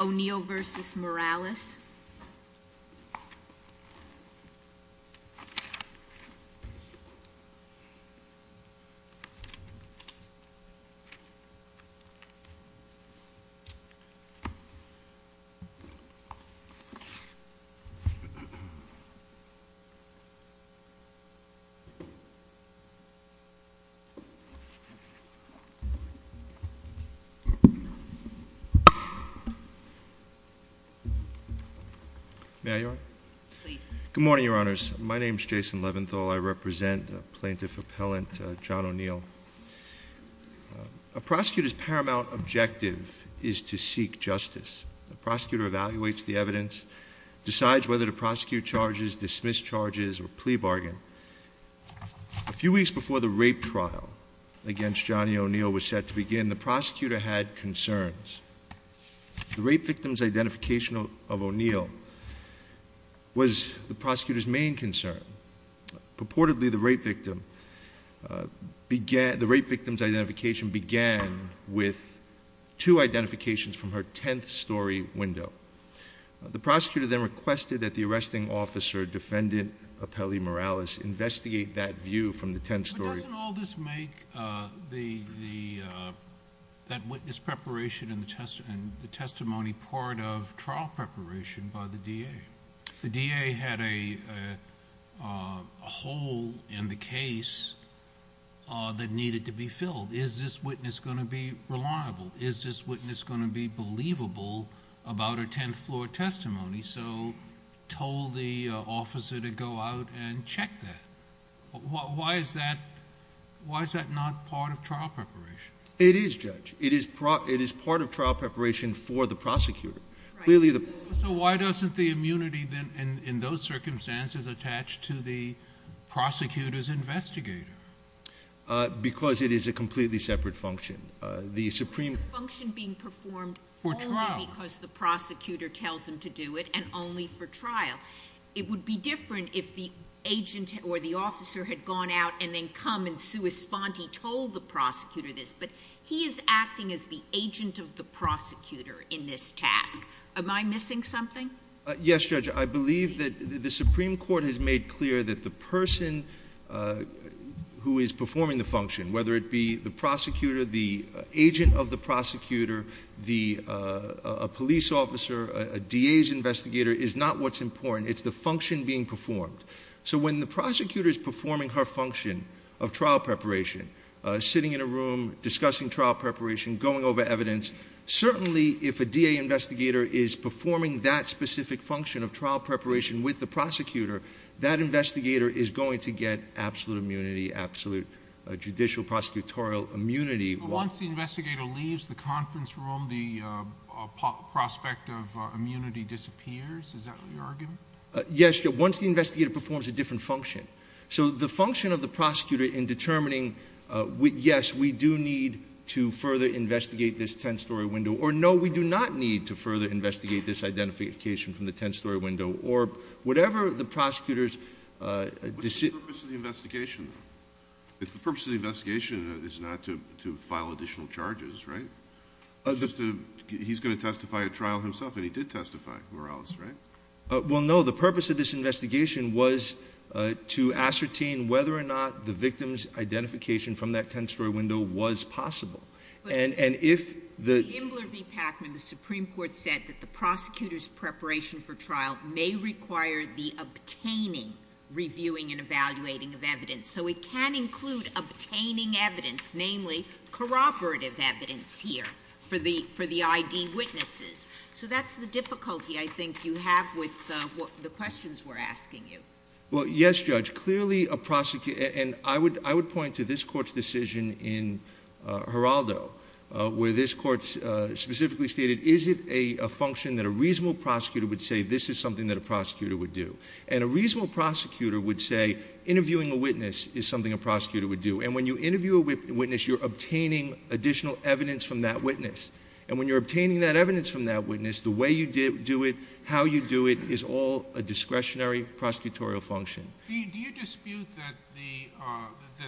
O'Neal versus Morales Good morning, Your Honors. My name is Jason Leventhal. I represent Plaintiff Appellant John O'Neal. A prosecutor's paramount objective is to seek justice. The prosecutor evaluates the evidence, decides whether to prosecute charges, dismiss charges, or plea bargain. A few weeks before the rape trial against Johnny O'Neal was set to begin, the prosecutor had concerns. The rape victim's identification of O'Neal was the prosecutor's main concern. Purportedly, the rape victim's identification began with two identifications from her tenth story window. The prosecutor then requested that the arresting officer, Defendant Apelli Morales, investigate that view from the tenth story... But doesn't all this make that witness preparation and the testimony part of trial preparation by the DA? The DA had a hole in the case that needed to be filled. Is this witness going to be reliable? Is this witness going to be believable about a tenth floor testimony? So he told the officer to go out and check that. Why is that not part of trial preparation? It is, Judge. It is part of trial preparation for the prosecutor. So why doesn't the immunity in those circumstances attach to the prosecutor's investigator? Because it is a completely separate function. The supreme... And only for trial. It would be different if the agent or the officer had gone out and then come and sui sponte, told the prosecutor this. But he is acting as the agent of the prosecutor in this task. Am I missing something? Yes, Judge. I believe that the Supreme Court has made clear that the person who is performing the function, whether it be the prosecutor, the agent of the prosecutor, a police officer, a DA's investigator, is not what's important. It's the function being performed. So when the prosecutor is performing her function of trial preparation, sitting in a room, discussing trial preparation, going over evidence, certainly if a DA investigator is performing that specific function of trial preparation with the prosecutor, that investigator is going to get absolute immunity, absolute judicial prosecutorial immunity. But once the investigator leaves the conference room, the prospect of immunity disappears? Is that your argument? Yes, Judge. Once the investigator performs a different function. So the function of the prosecutor in determining, yes, we do need to further investigate this 10-story window, or no, we do not need to further investigate this identification from the 10-story window, or whatever the prosecutor's decision... What's the purpose of the investigation, though? If the purpose of the investigation is not to file additional charges, right? He's going to testify at trial himself, and he did testify, more or less, right? Well, no. The purpose of this investigation was to ascertain whether or not the victim's identification from that 10-story window was possible. And if the... may require the obtaining, reviewing, and evaluating of evidence. So it can include obtaining evidence, namely, corroborative evidence here for the ID witnesses. So that's the difficulty, I think, you have with the questions we're asking you. Well, yes, Judge. Clearly, a prosecutor... And I would point to this Court's decision in Geraldo, where this reasonable prosecutor would say, this is something that a prosecutor would do. And a reasonable prosecutor would say, interviewing a witness is something a prosecutor would do. And when you interview a witness, you're obtaining additional evidence from that witness. And when you're obtaining that evidence from that witness, the way you do it, how you do it, is all a discretionary prosecutorial function. Do you dispute that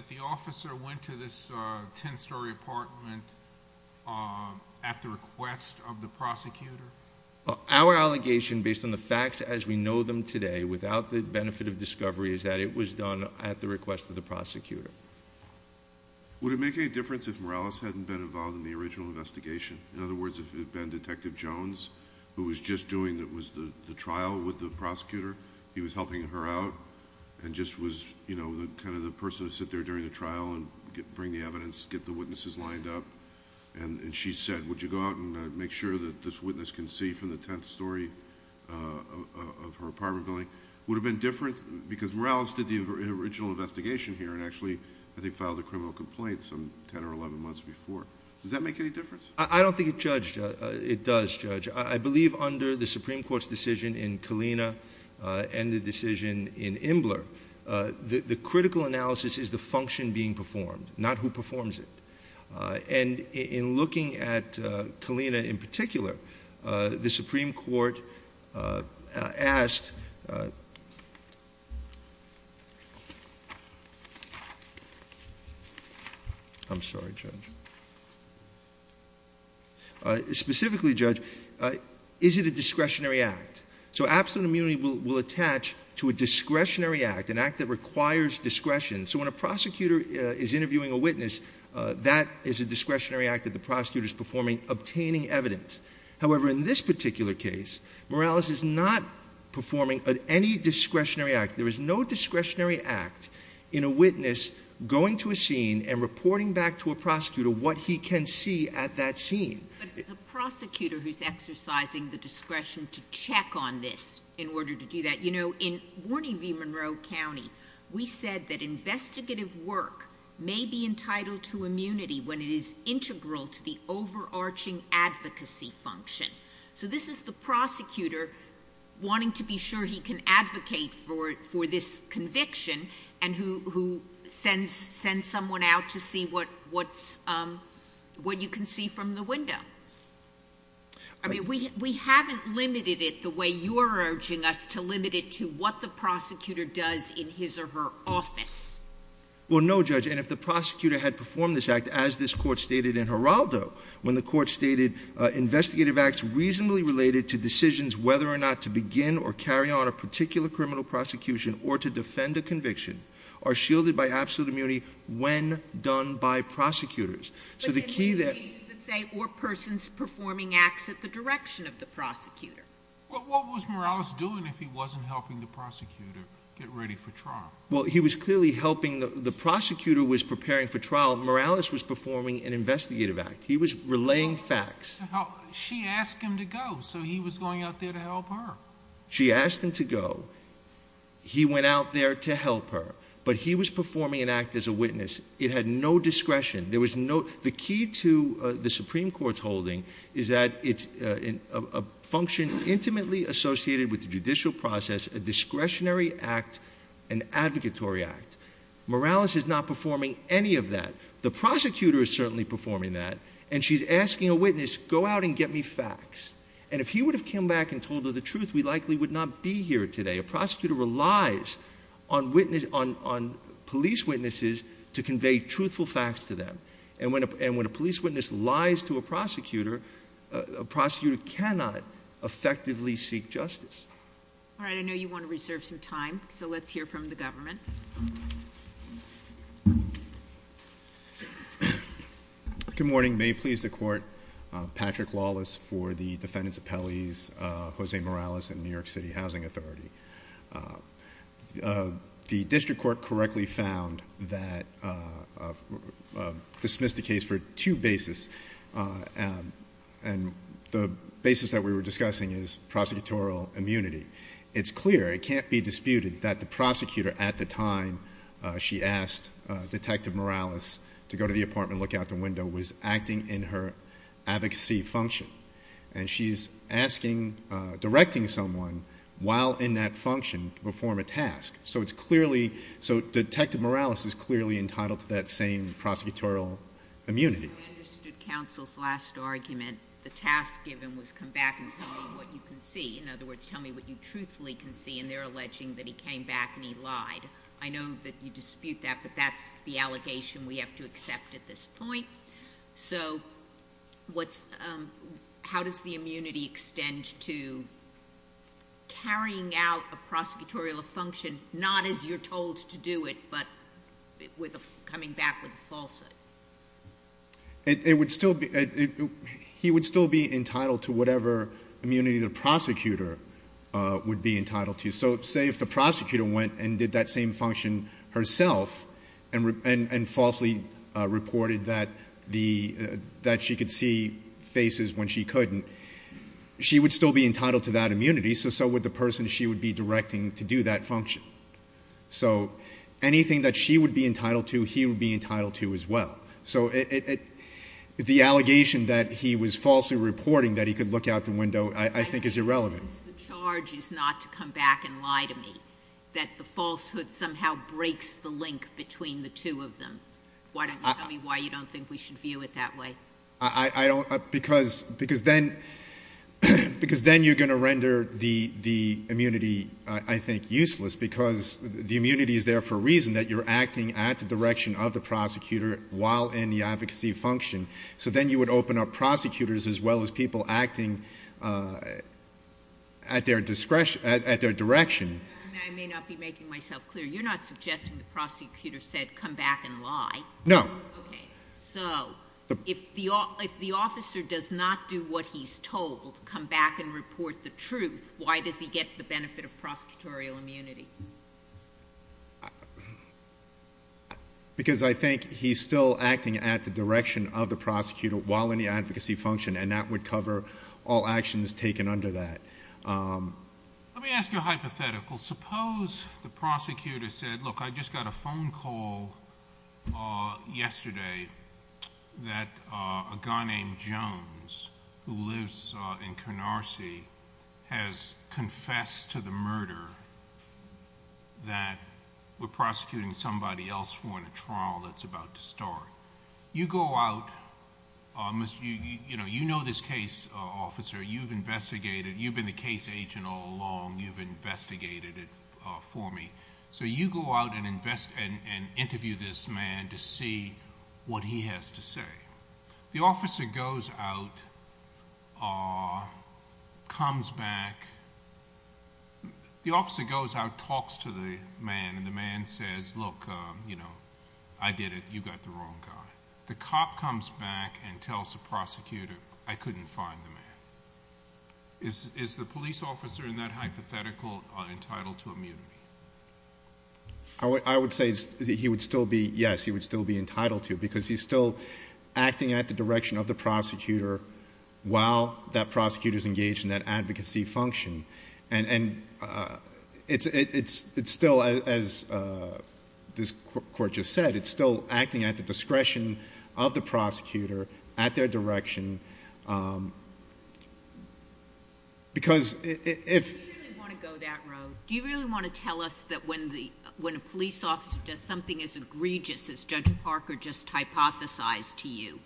the officer went to this 10-story apartment at the request of the prosecutor? Our allegation, based on the facts as we know them today, without the benefit of discovery, is that it was done at the request of the prosecutor. Would it make any difference if Morales hadn't been involved in the original investigation? In other words, if it had been Detective Jones, who was just doing the trial with the prosecutor, he was helping her out, and just was kind of the person to sit there during the trial and bring the evidence, get the witnesses lined up. And she said, would you go out and make sure that this witness can see from the 10th story of her apartment building? Would it have been different? Because Morales did the original investigation here, and actually, I think, filed a criminal complaint some 10 or 11 months before. Does that make any difference? I don't think it does, Judge. I believe under the Supreme Court, in particular, the critical analysis is the function being performed, not who performs it. And in looking at Kalina in particular, the Supreme Court asked—I'm sorry, Judge. Specifically, Judge, is it a discretionary act? So absolute immunity will attach to a act that requires discretion. So when a prosecutor is interviewing a witness, that is a discretionary act that the prosecutor is performing, obtaining evidence. However, in this particular case, Morales is not performing any discretionary act. There is no discretionary act in a witness going to a scene and reporting back to a prosecutor what he can see at that scene. But it's a prosecutor who's exercising the discretion to check on this in order to do that. In warning of Monroe County, we said that investigative work may be entitled to immunity when it is integral to the overarching advocacy function. So this is the prosecutor wanting to be sure he can advocate for this conviction and who sends someone out to see what you can see from the window. I mean, we haven't limited it the way you're urging us to limit it to what the prosecutor does in his or her office. Well, no, Judge. And if the prosecutor had performed this act, as this Court stated in Geraldo, when the Court stated investigative acts reasonably related to decisions whether or not to begin or carry on a particular criminal prosecution or to defend a conviction are shielded by absolute immunity when done by prosecutors. So the key there— But in many cases that say or persons performing acts at the direction of the prosecutor. What was Morales doing if he wasn't helping the prosecutor get ready for trial? Well, he was clearly helping—the prosecutor was preparing for trial. Morales was performing an investigative act. He was relaying facts. She asked him to go, so he was going out there to help her. She asked him to go. He went out there to help her. But he was performing an act as a witness. It had no discretion. There was no—the key to the Supreme Court's holding is that it's a function intimately associated with the judicial process, a discretionary act, an advocatory act. Morales is not performing any of that. The prosecutor is certainly performing that. And she's asking a witness, go out and get me facts. And if he would have come back and told her the truth, we likely would not be here today. A prosecutor relies on police witnesses to convey truthful facts to them. And when a police witness lies to a prosecutor, a prosecutor cannot effectively seek justice. All right. I know you want to reserve some time, so let's hear from the government. Good morning. May it please the Court, Patrick Lawless for the defendant's appellees, Jose Morales and New York City Housing Authority. The district court correctly found that—dismissed the case for two bases. And the basis that we were discussing is prosecutorial immunity. It's clear, it can't be disputed, that the prosecutor at the time she asked Detective Morales to go to the apartment, look out the window, was acting in her advocacy function. And she's asking, directing someone while in that function to perform a task. So it's clearly, so Detective Morales is clearly entitled to that same prosecutorial immunity. I understood counsel's last argument. The task given was come back and tell me what you can see. In other words, tell me what you truthfully can see. And they're alleging that he came back and he lied. I know that you dispute that, but that's the allegation we have to accept at this point. So how does the immunity extend to carrying out a prosecutorial function, not as you're told to do it, but coming back with a falsehood? He would still be entitled to whatever immunity the prosecutor would be entitled to. So say if the prosecutor went and did that same function herself and falsely reported that she could see faces when she couldn't, she would still be entitled to that immunity. So would the person she would be directing to do that function. So anything that she would be entitled to, he would be entitled to as well. So the allegation that he was falsely reporting that he could look out the window, I think is irrelevant. The charge is not to come back and lie to me. That the falsehood somehow breaks the link between the two of them. Why don't you tell me why you don't think we should view it that way? Because then you're going to render the immunity, I think, useless because the immunity is there for a reason that you're acting at the direction of the prosecutor while in the advocacy function. So then you would open up prosecutors as well as people acting at their direction. I may not be making myself clear. You're not suggesting the prosecutor said come back and lie. No. Okay. So if the officer does not do what he's told, come back and report the truth, why does he get the benefit of prosecutorial immunity? Because I think he's still acting at the direction of the prosecutor while in the advocacy function, and that would cover all actions taken under that. Let me ask you a hypothetical. Suppose the prosecutor said, look, I just got a phone call yesterday that a guy named Jones, who lives in Canarsie, has confessed to the murder that we're prosecuting somebody else for in a trial that's about to start. You go out. You know this case, officer. You've been the case agent all along. You've investigated it for me. So you go out and interview this man to see what he has to say. The officer goes out, comes back. The officer goes out, talks to the man, and the man says, look, I did it. You got the wrong guy. The cop comes back and tells the prosecutor, I couldn't find the man. Is the police officer in that hypothetical entitled to immunity? I would say he would still be, yes, he would still be entitled to, because he's still acting at the direction of the prosecutor while that prosecutor's engaged in that advocacy function. And it's still, as this court just said, it's still acting at the discretion of the prosecutor, at their direction, because if... Do you really want to go that road? Do you really want to tell us that when a police officer does something as egregious as Judge Parker just hypothesized to you,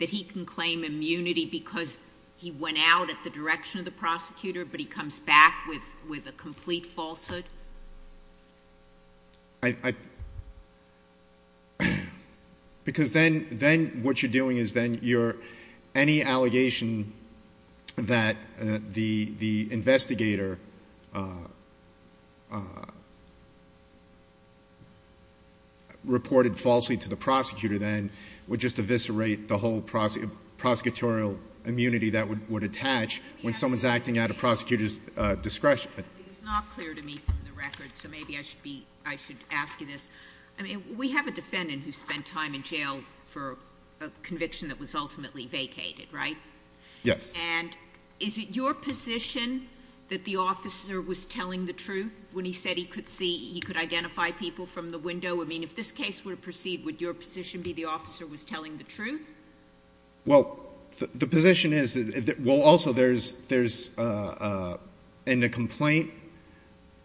that he can claim immunity because he went out at the direction of the prosecutor, but he comes back with a complete falsehood? Because then what you're doing is then you're, any allegation that the investigator reported falsely to the prosecutor then would just eviscerate the whole prosecutorial immunity that would attach when someone's acting at a prosecutor's discretion. It's not clear to me from the record, so maybe I should be, I should ask you this. I mean, we have a defendant who spent time in jail for a conviction that was ultimately vacated, right? Yes. And is it your position that the officer was telling the truth when he said he could see, he could identify people from the window? I mean, if this case were to proceed, would your position be the officer was telling the truth? Well, the position is, well, also there's, in the complaint,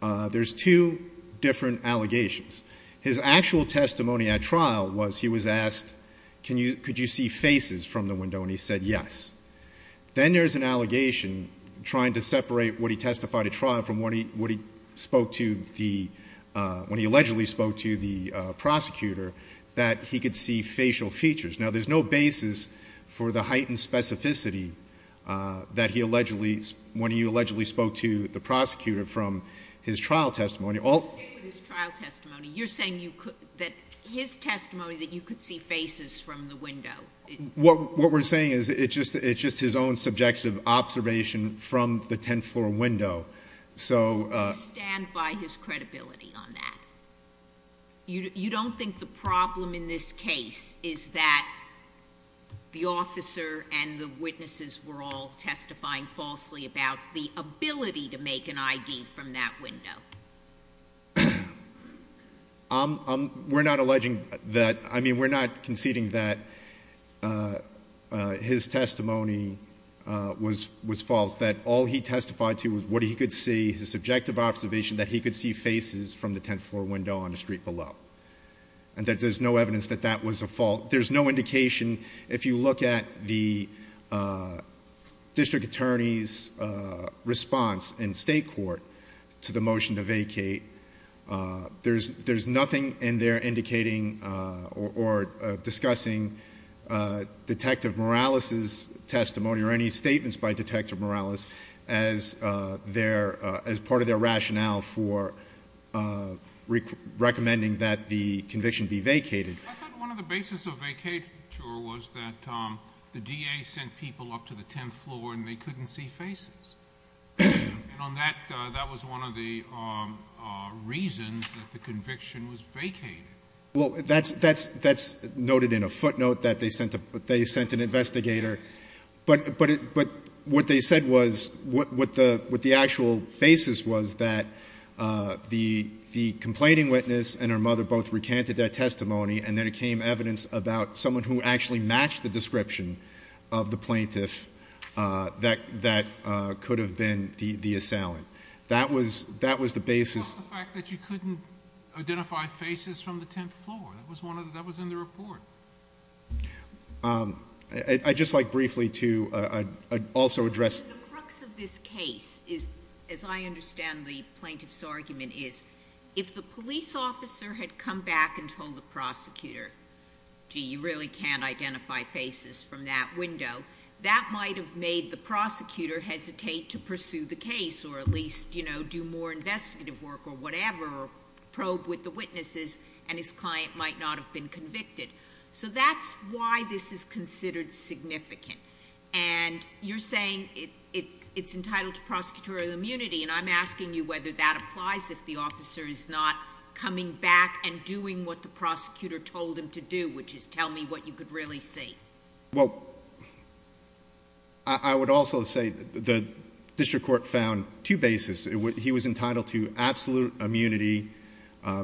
there's two different allegations. His actual testimony at trial was, he was asked, can you, could you see faces from the window? And he said, yes. Then there's an allegation trying to separate what he testified at trial from what he spoke to the, when he allegedly spoke to the prosecutor, that he could see facial features. Now, there's no basis for the heightened specificity that he allegedly, when he allegedly spoke to the prosecutor from his trial testimony. His trial testimony, you're saying that his testimony, that you could see faces from the window? What we're saying is it's just, it's just his own subjective observation from the 10th floor window. So. Do you stand by his credibility on that? You don't think the problem in this case is that the officer and the witnesses were all testifying falsely about the ability to make an ID from that window? We're not alleging that, I mean, we're not conceding that his testimony was false. That all he testified to was what he could see, his subjective observation that he could see faces from the 10th floor window on the street below. And there's no evidence that that was a fault. There's no indication. If you look at the district attorney's response in state court to the motion to vacate, there's nothing in there indicating or discussing Detective Morales' testimony or any statements by Detective Morales as part of their rationale for recommending that the conviction be vacated. I thought one of the basis of vacature was that the DA sent people up to the 10th floor and they couldn't see faces. And on that, that was one of the reasons that the conviction was vacated. Well, that's noted in a footnote that they sent an investigator. But what they said was, what the actual basis was that the complaining witness and her mother both recanted their testimony and then it came evidence about someone who actually matched the description of the plaintiff that could have been the assailant. That was the basis. What about the fact that you couldn't identify faces from the 10th floor? That was in the report. I'd just like briefly to also address... But the crux of this case is, as I understand the plaintiff's argument is, if the police officer had come back and told the prosecutor, gee, you really can't identify faces from that window, that might have made the prosecutor hesitate to pursue the case or at least do more investigative work or whatever or probe with the witnesses and his client might not have been convicted. So that's why this is considered significant. And you're saying it's entitled to prosecutorial immunity. And I'm asking you whether that applies if the officer is not coming back and doing what the prosecutor told him to do, which is tell me what you could really see. Well, I would also say the district court found two bases. He was entitled to absolute immunity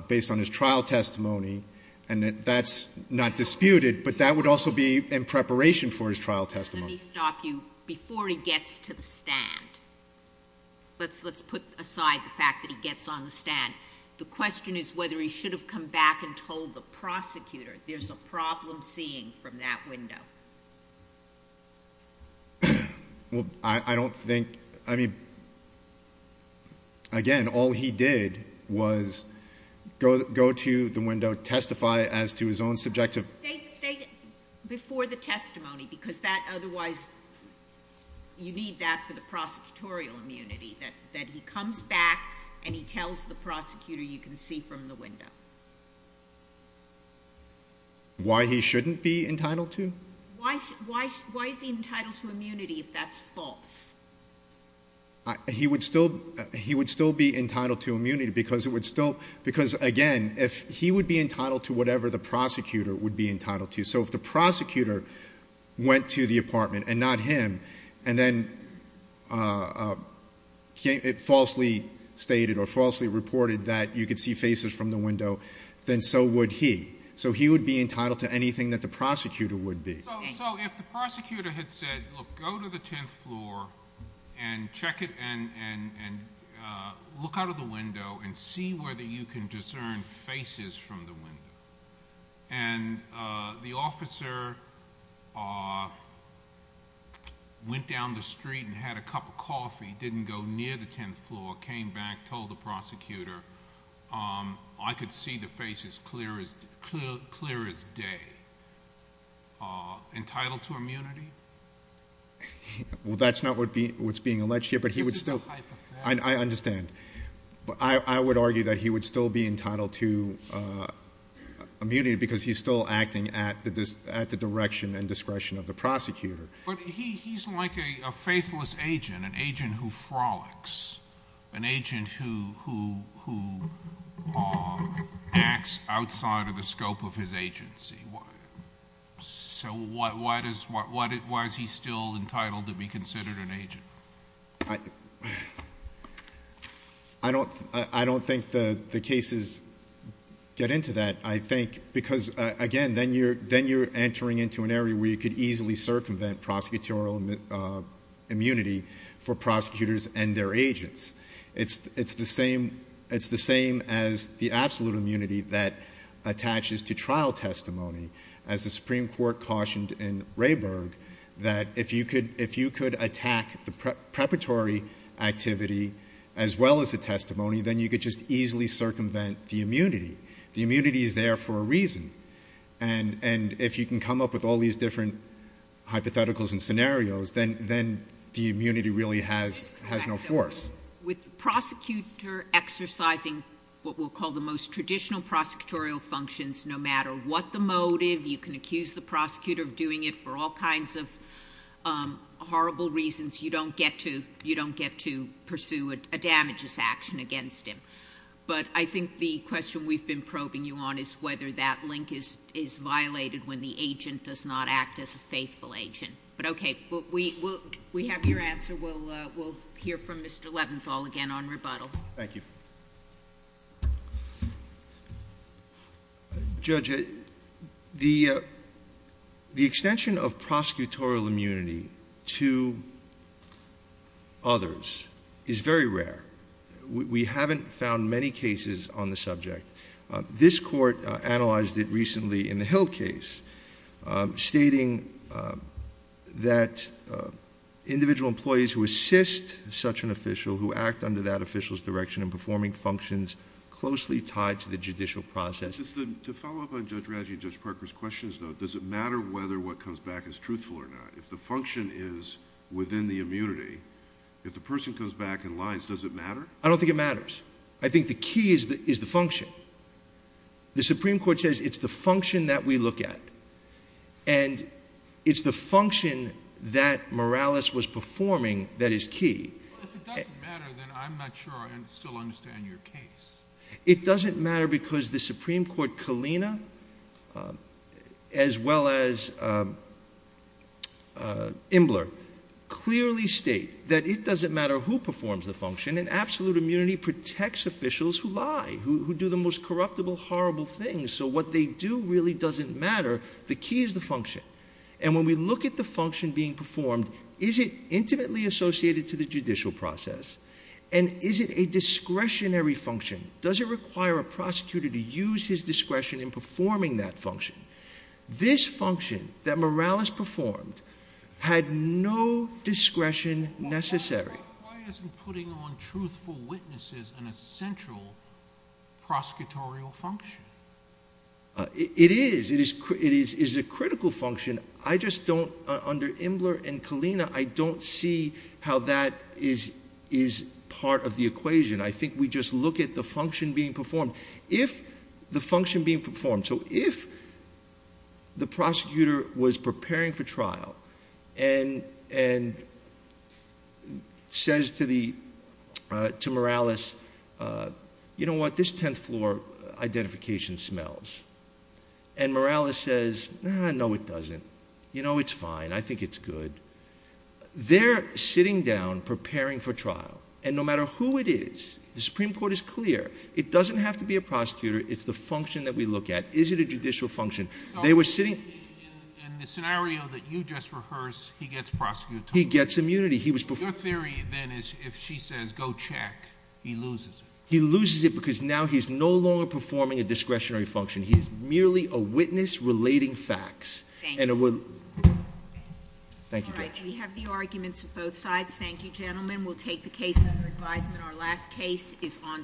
based on his trial testimony. And that's not disputed, but that would also be in preparation for his trial testimony. Let me stop you before he gets to the stand. Let's put aside the fact that he gets on the stand. The question is whether he should have come back and told the prosecutor there's a problem seeing from that window. Well, I don't think, I mean, again, all he did was go to the window, testify as to his own subjective... State before the testimony, because that otherwise, you need that for the prosecutorial immunity that he comes back and he tells the prosecutor you can see from the window. Why he shouldn't be entitled to? Why is he entitled to immunity if that's false? He would still be entitled to immunity because it would still, because again, if he would be entitled to whatever the prosecutor would be entitled to. So if the prosecutor went to the apartment and not him, and then it falsely stated or falsely reported that you could see faces from the window, then so would he. So he would be entitled to anything that the prosecutor would be. So if the prosecutor had said, look, go to the 10th floor and check it and look out of the window and see whether you can discern faces from the window. And the officer went down the street and had a cup of coffee, didn't go near the 10th floor, came back, told the prosecutor, I could see the face as clear as day. Entitled to immunity? Well, that's not what's being alleged here, but he would still... This is a hypothetical. I understand. But I would argue that he would still be entitled to immunity because he's still acting at the direction and discretion of the prosecutor. But he's like a faithless agent, an agent who frolics, an agent who acts outside of the scope of his agency. So why is he still entitled to be considered an agent? I don't think the cases get into that, I think, because again, then you're entering into an area where you could easily circumvent prosecutorial immunity for prosecutors and their agents. It's the same as the absolute immunity that attaches to trial testimony, as the Supreme Court cautioned in Rayburg, that if you could attack the preparatory activity as well as the testimony, then you could just easily circumvent the immunity. The immunity is there for a reason. And if you can come up with all these different hypotheticals and scenarios, then the immunity really has no force. With the prosecutor exercising what we'll call the most traditional prosecutorial functions, no matter what the motive, you can accuse the prosecutor of doing it for all kinds of horrible reasons. You don't get to pursue a damageous action against him. But I think the question we've been probing you on is whether that link is violated when the agent does not act as a faithful agent. But okay, we have your answer. We'll hear from Mr. Leventhal again on rebuttal. Thank you. Judge, the extension of prosecutorial immunity to others is very rare. We haven't found many cases on the subject. This court analyzed it recently in the Hill case, stating that individual employees who assist such an official who act under that official's direction in performing functions closely tied to the judicial process... Just to follow up on Judge Radji and Judge Parker's questions, though, does it matter whether what comes back is truthful or not? If the function is within the immunity, I don't think it matters. I think the key is the function. The Supreme Court says it's the function that we look at, and it's the function that Morales was performing that is key. Well, if it doesn't matter, then I'm not sure I still understand your case. It doesn't matter because the Supreme Court, Kalina as well as protects officials who lie, who do the most corruptible, horrible things. So what they do really doesn't matter. The key is the function. And when we look at the function being performed, is it intimately associated to the judicial process? And is it a discretionary function? Does it require a prosecutor to use his discretion in performing that function? This function that Morales performed had no discretion necessary. Why isn't putting on truthful witnesses an essential prosecutorial function? It is. It is a critical function. I just don't... under Imler and Kalina, I don't see how that is part of the equation. I think we just look at the function being performed. If the function being performed, so if the prosecutor was preparing for trial and says to Morales, you know what, this tenth floor identification smells. And Morales says, no, it doesn't. You know, it's fine. I think it's good. They're sitting down preparing for trial. And no matter who it is, the Supreme Court is clear, it doesn't have to be a prosecutor. It's the function that we look at. Is it a judicial function? They were sitting... In the scenario that you just rehearsed, he gets prosecuted. He gets immunity. He was... Your theory then is if she says go check, he loses it. He loses it because now he's no longer performing a discretionary function. He's merely a witness relating facts. Thank you, Judge. We have the arguments of both sides. Thank you, gentlemen. We'll take the case under advisement. Our last case is on submission.